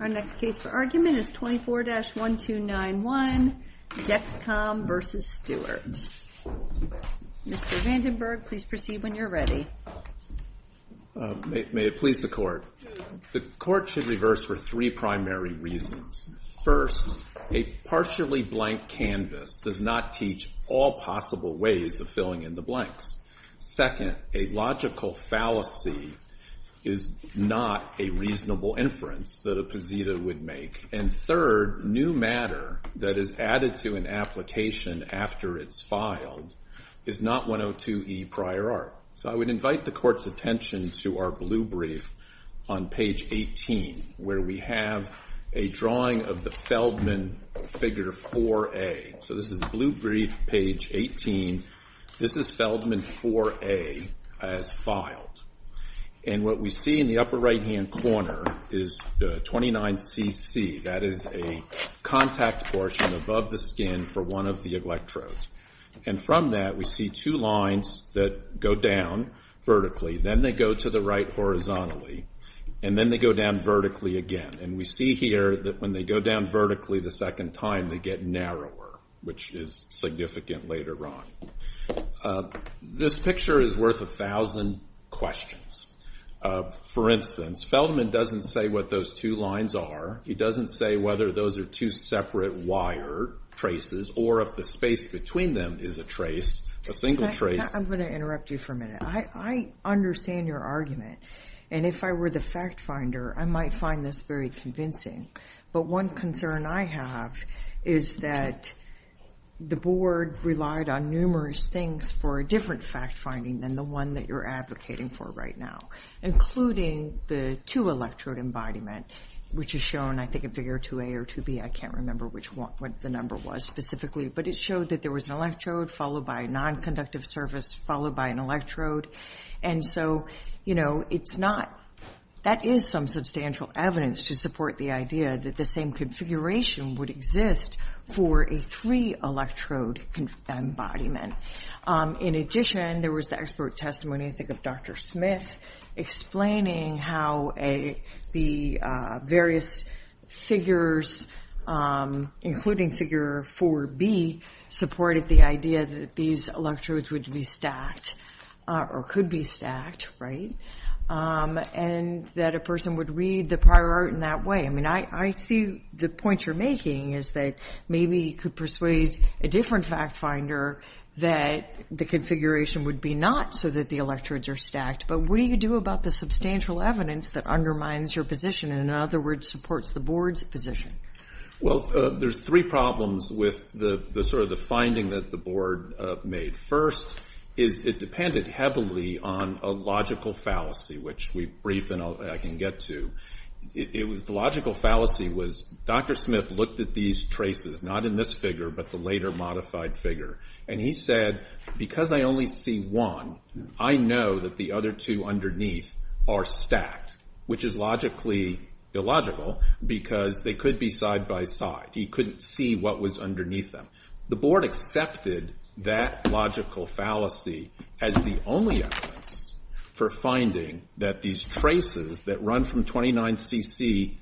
Our next case for argument is 24-1291, Dexcom v. Stewart. Mr. Vandenberg, please proceed when you're ready. May it please the Court. The Court should reverse for three primary reasons. First, a partially blank canvas does not teach all possible ways of filling in the blanks. Second, a logical fallacy is not a reasonable inference that a poseda would make. And third, new matter that is added to an application after it's filed is not 102e prior art. So I would invite the Court's attention to our blue brief on page 18, where we have a drawing of the Feldman figure 4A. So this is blue brief, page 18. This is Feldman 4A as filed. And what we see in the upper right-hand corner is 29cc. That is a contact portion above the skin for one of the electrodes. And from that, we see two lines that go down vertically. Then they go to the right horizontally, and then they go down vertically again. And we see here that when they go down vertically the second time, they get narrower, which is significant later on. This picture is worth a thousand questions. For instance, Feldman doesn't say what those two lines are. He doesn't say whether those are two separate wire traces or if the space between them is a trace, a single trace. I'm going to interrupt you for a minute. I understand your argument. And if I were the fact finder, I might find this very convincing. But one concern I have is that the board relied on numerous things for a different fact finding than the one that you're advocating for right now, including the two-electrode embodiment, which is shown, I think, in Figure 2A or 2B. I can't remember what the number was specifically. But it showed that there was an electrode followed by a nonconductive surface followed by an electrode. And so that is some substantial evidence to support the idea that the same configuration would exist for a three-electrode embodiment. In addition, there was the expert testimony, I think, of Dr. Smith, explaining how the various figures, including Figure 4B, supported the idea that these electrodes would be stacked or could be stacked, right, and that a person would read the prior art in that way. I mean, I see the point you're making is that maybe you could persuade a different fact finder that the configuration would be not so that the electrodes are stacked. But what do you do about the substantial evidence that undermines your position and, in other words, supports the board's position? Well, there's three problems with sort of the finding that the board made. First is it depended heavily on a logical fallacy, which we briefed and I can get to. The logical fallacy was Dr. Smith looked at these traces, not in this figure, but the later modified figure, and he said, because I only see one, I know that the other two underneath are stacked, which is logically illogical because they could be side by side. He couldn't see what was underneath them. The board accepted that logical fallacy as the only evidence for finding that these traces that run from 29cc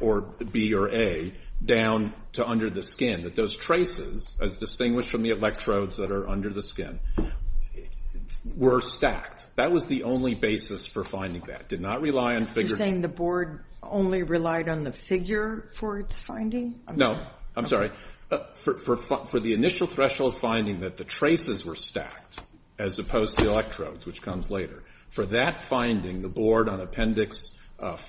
or B or A down to under the skin, that those traces, as distinguished from the electrodes that are under the skin, were stacked. That was the only basis for finding that, did not rely on figure. You're saying the board only relied on the figure for its finding? No. I'm sorry. For the initial threshold finding that the traces were stacked as opposed to the electrodes, which comes later, for that finding, the board on Appendix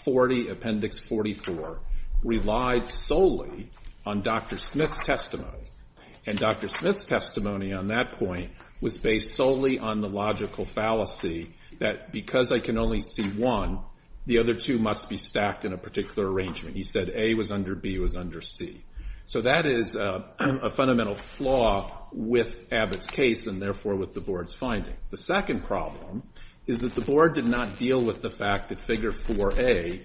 40, Appendix 44, relied solely on Dr. Smith's testimony. And Dr. Smith's testimony on that point was based solely on the logical fallacy that because I can only see one, the other two must be stacked in a particular arrangement. He said A was under B was under C. So that is a fundamental flaw with Abbott's case and, therefore, with the board's finding. The second problem is that the board did not deal with the fact that figure 4A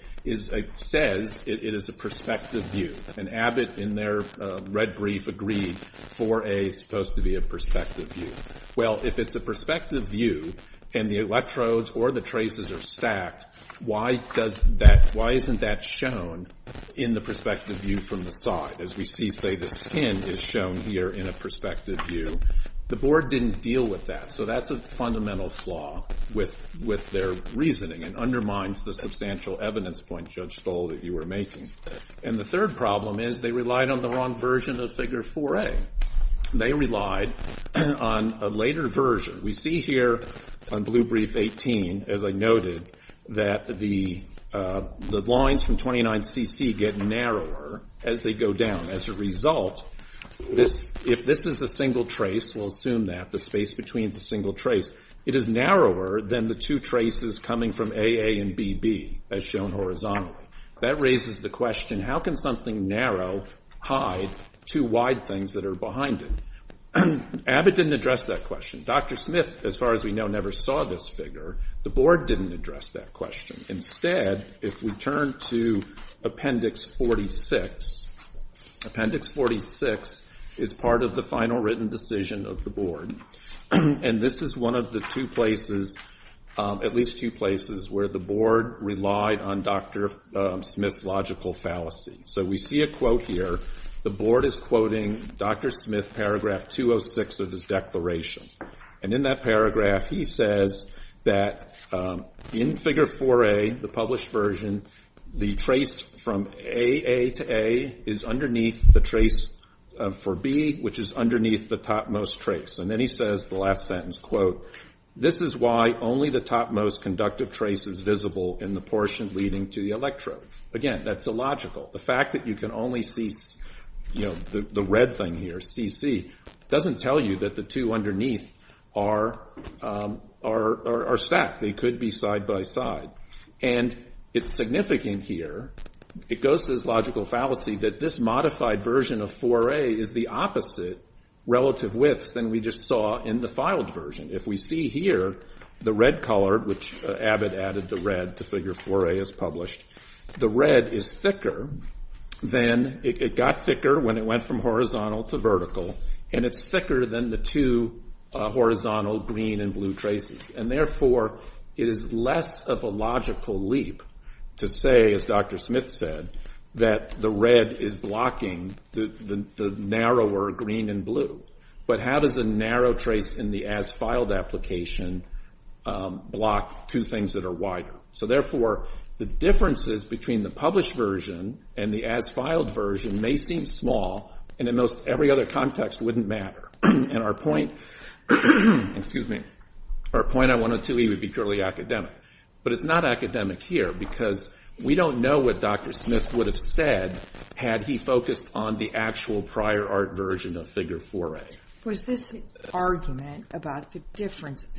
says it is a perspective view. And Abbott, in their red brief, agreed 4A is supposed to be a perspective view. Well, if it's a perspective view and the electrodes or the traces are stacked, why isn't that shown in the perspective view from the side? As we see, say, the skin is shown here in a perspective view. The board didn't deal with that. So that's a fundamental flaw with their reasoning. It undermines the substantial evidence point Judge Stoll that you were making. And the third problem is they relied on the wrong version of figure 4A. They relied on a later version. We see here on blue brief 18, as I noted, that the lines from 29CC get narrower as they go down. As a result, if this is a single trace, we'll assume that, the space between is a single trace, it is narrower than the two traces coming from AA and BB as shown horizontally. That raises the question, how can something narrow hide two wide things that are behind it? Abbott didn't address that question. Dr. Smith, as far as we know, never saw this figure. The board didn't address that question. Instead, if we turn to Appendix 46, Appendix 46 is part of the final written decision of the board. And this is one of the two places, at least two places, where the board relied on Dr. Smith's logical fallacy. So we see a quote here. The board is quoting Dr. Smith, paragraph 206 of his declaration. And in that paragraph, he says that in figure 4A, the published version, the trace from AA to A is underneath the trace for B, which is underneath the topmost trace. And then he says, the last sentence, quote, this is why only the topmost conductive trace is visible in the portion leading to the electrodes. Again, that's illogical. The fact that you can only see, you know, the red thing here, CC, doesn't tell you that the two underneath are stacked. They could be side by side. And it's significant here, it goes to this logical fallacy, that this modified version of 4A is the opposite relative widths than we just saw in the filed version. If we see here the red color, which Abbott added the red to figure 4A as published, the red is thicker than, it got thicker when it went from horizontal to vertical, and it's thicker than the two horizontal green and blue traces. And therefore, it is less of a logical leap to say, as Dr. Smith said, that the red is blocking the narrower green and blue. But how does a narrow trace in the as-filed application block two things that are wider? So therefore, the differences between the published version and the as-filed version may seem small, and in most every other context wouldn't matter. And our point, excuse me, our point on 102E would be purely academic. But it's not academic here, because we don't know what Dr. Smith would have said had he focused on the actual prior art version of figure 4A. Was this argument about the difference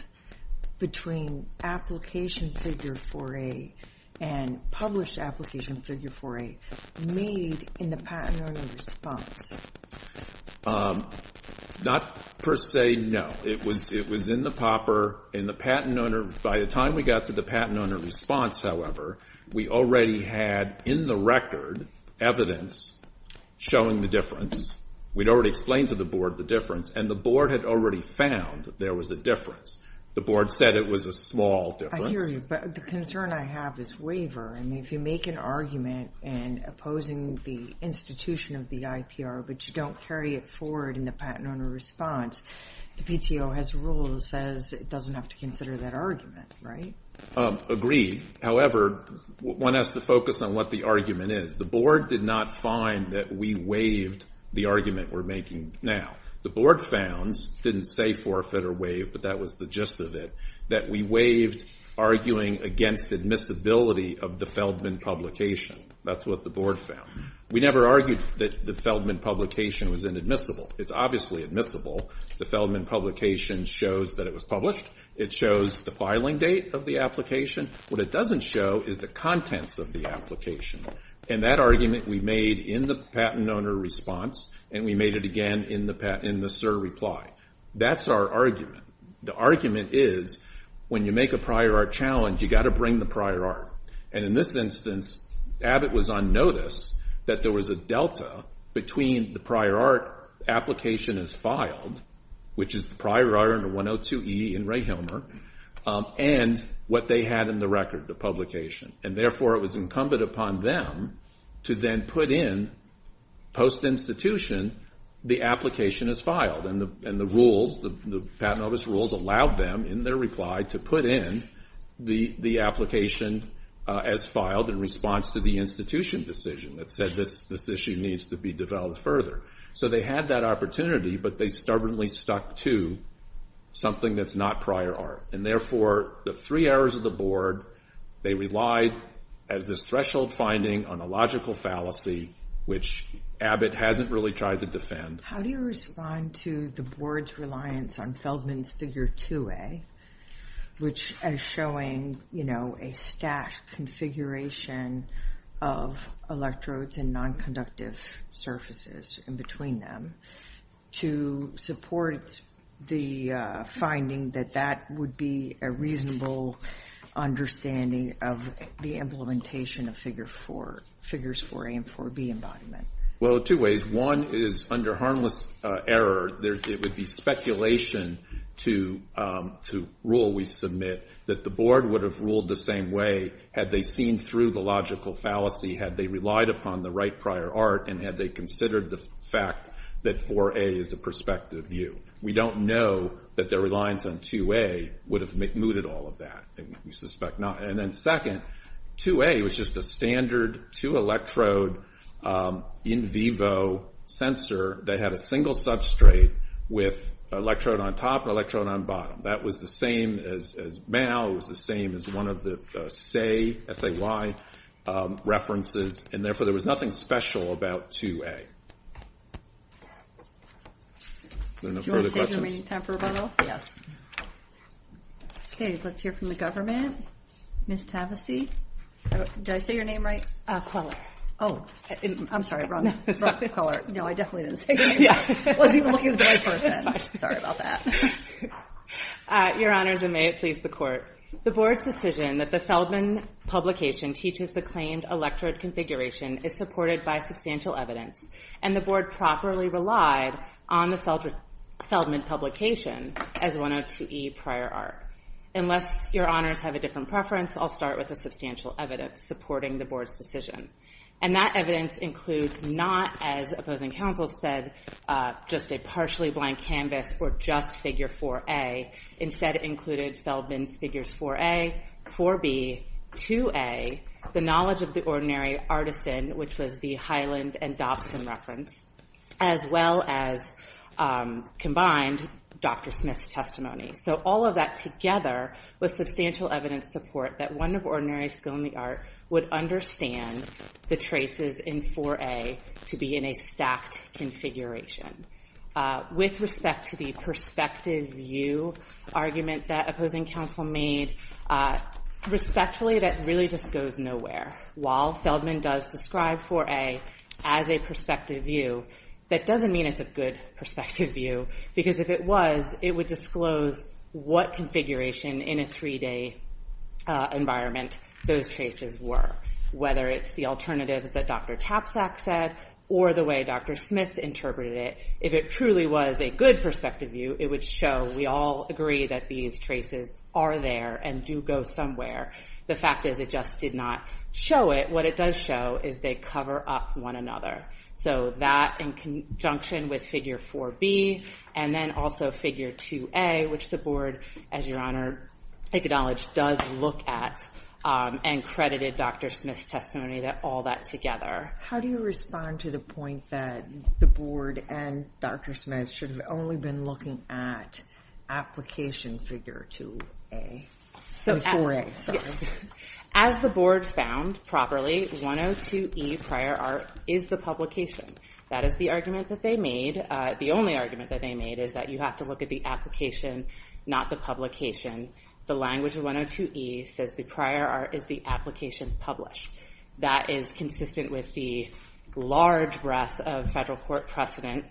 between application figure 4A and published application figure 4A made in the patent owner response? Not per se, no. It was in the POPR in the patent owner. By the time we got to the patent owner response, however, we already had in the record evidence showing the difference. We'd already explained to the board the difference, and the board had already found there was a difference. The board said it was a small difference. I hear you, but the concern I have is waiver. I mean, if you make an argument in opposing the institution of the IPR, but you don't carry it forward in the patent owner response, the PTO has a rule that says it doesn't have to consider that argument, right? Agreed. However, one has to focus on what the argument is. The board did not find that we waived the argument we're making now. The board found, didn't say forfeit or waive, but that was the gist of it, that we waived arguing against admissibility of the Feldman publication. That's what the board found. We never argued that the Feldman publication was inadmissible. It's obviously admissible. The Feldman publication shows that it was published. It shows the filing date of the application. What it doesn't show is the contents of the application. And that argument we made in the patent owner response, and we made it again in the SIR reply. That's our argument. The argument is when you make a prior art challenge, you've got to bring the prior art. And in this instance, Abbott was on notice that there was a delta between the prior art application as filed, which is the prior art under 102E in Ray Hilmer, and what they had in the record, the publication. And therefore, it was incumbent upon them to then put in, post-institution, the application as filed. And the rules, the patent office rules, allowed them in their reply to put in the application as filed in response to the institution decision that said this issue needs to be developed further. So they had that opportunity, but they stubbornly stuck to something that's not prior art. And therefore, the three errors of the board, they relied as this threshold finding on a logical fallacy, which Abbott hasn't really tried to defend. How do you respond to the board's reliance on Feldman's Figure 2A, which is showing a stacked configuration of electrodes and nonconductive surfaces in between them, to support the finding that that would be a reasonable understanding of the implementation of Figures 4A and 4B embodiment? Well, two ways. One is under harmless error. It would be speculation to rule, we submit, that the board would have ruled the same way had they seen through the logical fallacy, had they relied upon the right prior art, and had they considered the fact that 4A is a prospective view. We don't know that their reliance on 2A would have mooted all of that. We suspect not. And then second, 2A was just a standard two-electrode in vivo sensor that had a single substrate with electrode on top and electrode on bottom. That was the same as Mao. It was the same as one of the SAY references, and therefore there was nothing special about 2A. Do you want to save the remaining time for rebuttal? Yes. Okay, let's hear from the government. Ms. Tavesey? Did I say your name right? Oh, I'm sorry, wrong. No, I definitely didn't say your name right. I wasn't even looking at the right person. Sorry about that. Your Honors, and may it please the Court. The board's decision that the Feldman publication teaches the claimed electrode configuration is supported by substantial evidence, and the board properly relied on the Feldman publication as one of 2E prior art. Unless your Honors have a different preference, I'll start with the substantial evidence supporting the board's decision. And that evidence includes not, as opposing counsel said, just a partially blank canvas or just figure 4A. Instead it included Feldman's figures 4A, 4B, 2A, the knowledge of the ordinary artisan, which was the Hyland and Dobson reference, as well as combined Dr. Smith's testimony. So all of that together was substantial evidence support that one of ordinary skill in the art would understand the traces in 4A to be in a stacked configuration. With respect to the perspective view argument that opposing counsel made, respectfully that really just goes nowhere. While Feldman does describe 4A as a perspective view, that doesn't mean it's a good perspective view, because if it was, it would disclose what configuration in a three-day environment those traces were, whether it's the alternatives that Dr. Tapsack said or the way Dr. Smith interpreted it. If it truly was a good perspective view, it would show we all agree that these traces are there and do go somewhere. The fact is it just did not show it. What it does show is they cover up one another. So that, in conjunction with figure 4B, and then also figure 2A, which the board, as your Honor acknowledged, does look at and credited Dr. Smith's testimony to all that together. How do you respond to the point that the board and Dr. Smith should have only been looking at application figure 2A? As the board found properly, 102E, prior art, is the publication. That is the argument that they made. The only argument that they made is that you have to look at the application, not the publication. The language of 102E says the prior art is the application published. That is consistent with the large breadth of federal court precedent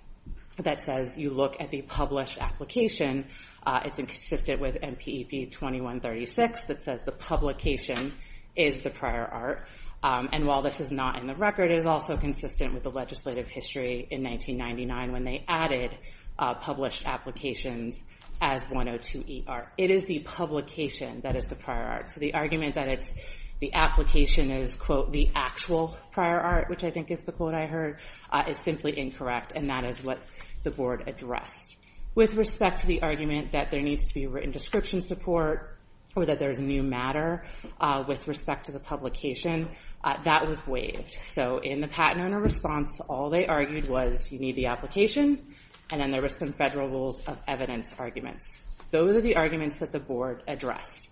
that says you look at the published application. It's consistent with MPEB 2136 that says the publication is the prior art. And while this is not in the record, it is also consistent with the legislative history in 1999 when they added published applications as 102E art. It is the publication that is the prior art. So the argument that the application is, quote, the actual prior art, which I think is the quote I heard, is simply incorrect, and that is what the board addressed. With respect to the argument that there needs to be written description support or that there is new matter with respect to the publication, that was waived. So in the patent owner response, all they argued was you need the application, and then there were some federal rules of evidence arguments. Those are the arguments that the board addressed.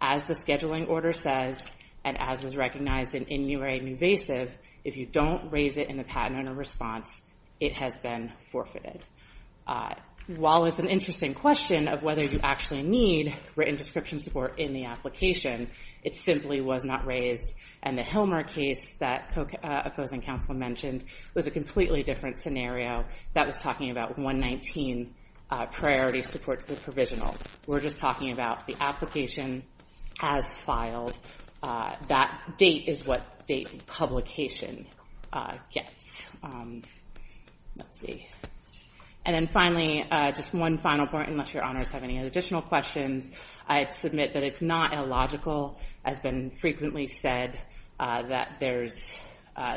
As the scheduling order says, and as was recognized in new or invasive, if you don't raise it in the patent owner response, it has been forfeited. While it's an interesting question of whether you actually need written description support in the application, it simply was not raised, and the Hilmer case that opposing counsel mentioned was a completely different scenario. That was talking about 119 priority support for the provisional. We're just talking about the application has filed. That date is what date publication gets. Let's see. And then finally, just one final point, unless your honors have any additional questions, I'd submit that it's not illogical, as has been frequently said, that there's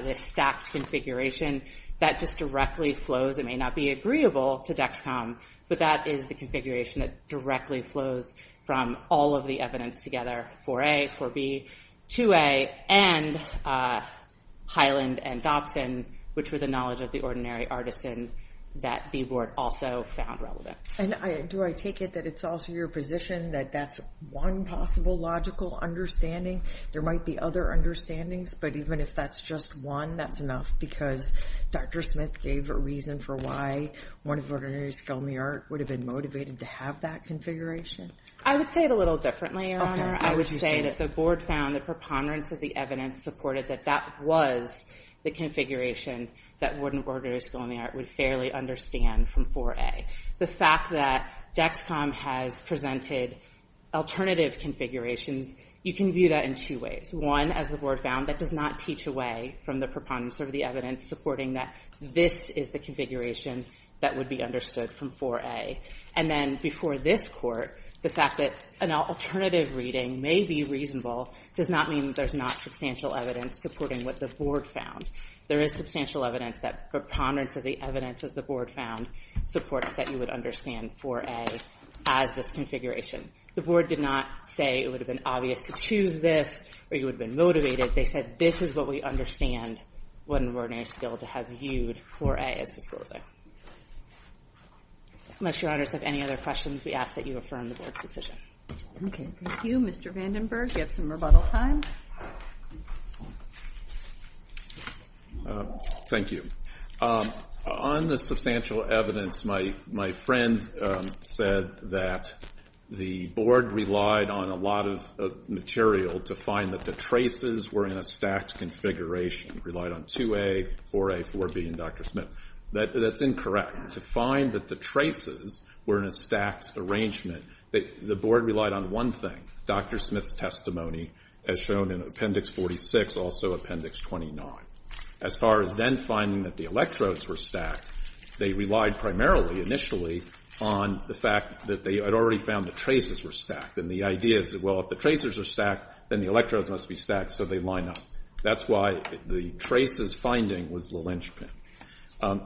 this stacked configuration that just directly flows. It may not be agreeable to Dexcom, but that is the configuration that directly flows from all of the evidence together, 4A, 4B, 2A, and Highland and Dobson, which were the knowledge of the ordinary artisan that the board also found relevant. And do I take it that it's also your position that that's one possible logical understanding? There might be other understandings, but even if that's just one, that's enough, because Dr. Smith gave a reason for why one of ordinary scaly art would have been motivated to have that configuration. I would say it a little differently, Your Honor. I would say that the board found the preponderance of the evidence supported that that was the configuration that one of ordinary scaly art would fairly understand from 4A. The fact that Dexcom has presented alternative configurations, you can view that in two ways. One, as the board found, that does not teach away from the preponderance of the evidence supporting that this is the configuration that would be understood from 4A. And then before this court, the fact that an alternative reading may be reasonable does not mean that there's not substantial evidence supporting what the board found. There is substantial evidence that preponderance of the evidence that the board found supports that you would understand 4A as this configuration. The board did not say it would have been obvious to choose this or you would have been motivated. They said this is what we understand one of ordinary scale to have viewed 4A as disclosing. Unless Your Honors have any other questions, we ask that you affirm the board's decision. Okay. Thank you, Mr. Vandenberg. We have some rebuttal time. Thank you. On the substantial evidence, my friend said that the board relied on a lot of material to find that the traces were in a stacked configuration, relied on 2A, 4A, 4B, and Dr. Smith. That's incorrect. To find that the traces were in a stacked arrangement, the board relied on one thing, Dr. Smith's testimony as shown in Appendix 46, also Appendix 29. As far as then finding that the electrodes were stacked, they relied primarily initially on the fact that they had already found the traces were stacked. And the idea is that, well, if the traces are stacked, then the electrodes must be stacked so they line up. That's why the traces finding was the linchpin.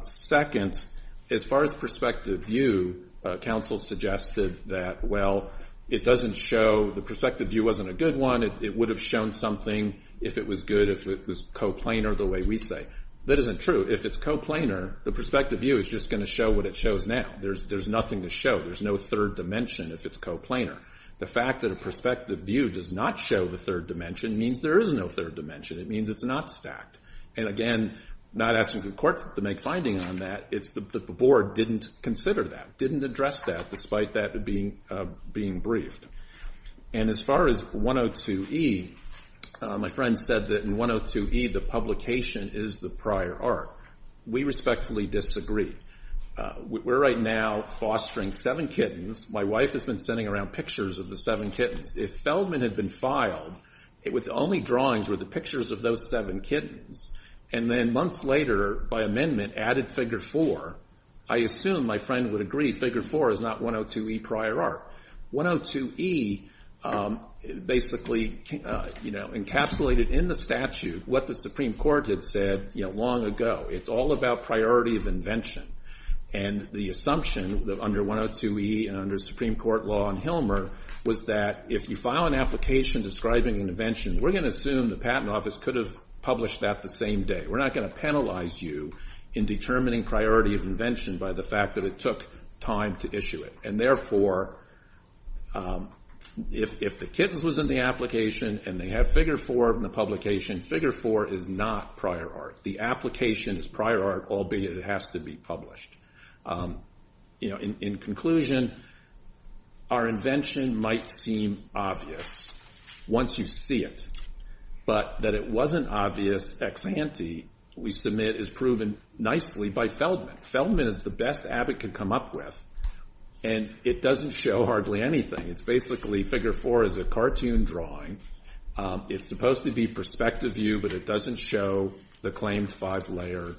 Second, as far as perspective view, counsel suggested that, well, it doesn't show, the perspective view wasn't a good one. It would have shown something if it was good, if it was coplanar the way we say. That isn't true. If it's coplanar, the perspective view is just going to show what it shows now. There's nothing to show. There's no third dimension if it's coplanar. The fact that a perspective view does not show the third dimension means there is no third dimension. It means it's not stacked. And again, not asking the court to make findings on that, the board didn't consider that, didn't address that despite that being briefed. And as far as 102E, my friend said that in 102E the publication is the prior art. We respectfully disagree. We're right now fostering seven kittens. My wife has been sending around pictures of the seven kittens. If Feldman had been filed, the only drawings were the pictures of those seven kittens. And then months later, by amendment, added Figure 4. I assume my friend would agree Figure 4 is not 102E prior art. 102E basically encapsulated in the statute what the Supreme Court had said long ago. It's all about priority of invention. And the assumption under 102E and under Supreme Court law on Hilmer was that if you file an application describing an invention, we're going to assume the patent office could have published that the same day. We're not going to penalize you in determining priority of invention by the fact that it took time to issue it. And therefore, if the kittens was in the application and they have Figure 4 in the publication, Figure 4 is not prior art. The application is prior art, albeit it has to be published. In conclusion, our invention might seem obvious once you see it. But that it wasn't obvious ex ante, we submit, is proven nicely by Feldman. Feldman is the best Abbott could come up with, and it doesn't show hardly anything. It's basically Figure 4 is a cartoon drawing. It's supposed to be perspective view, but it doesn't show the claims five-layer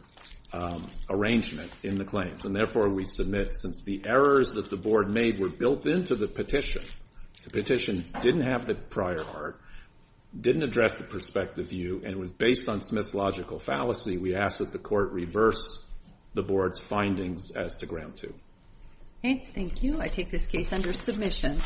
arrangement in the claims. And therefore, we submit, since the errors that the Board made were built into the petition, the petition didn't have the prior art, didn't address the perspective view, and was based on Smith's logical fallacy, we ask that the Court reverse the Board's findings as to Ground 2. Okay, thank you. I take this case under submission.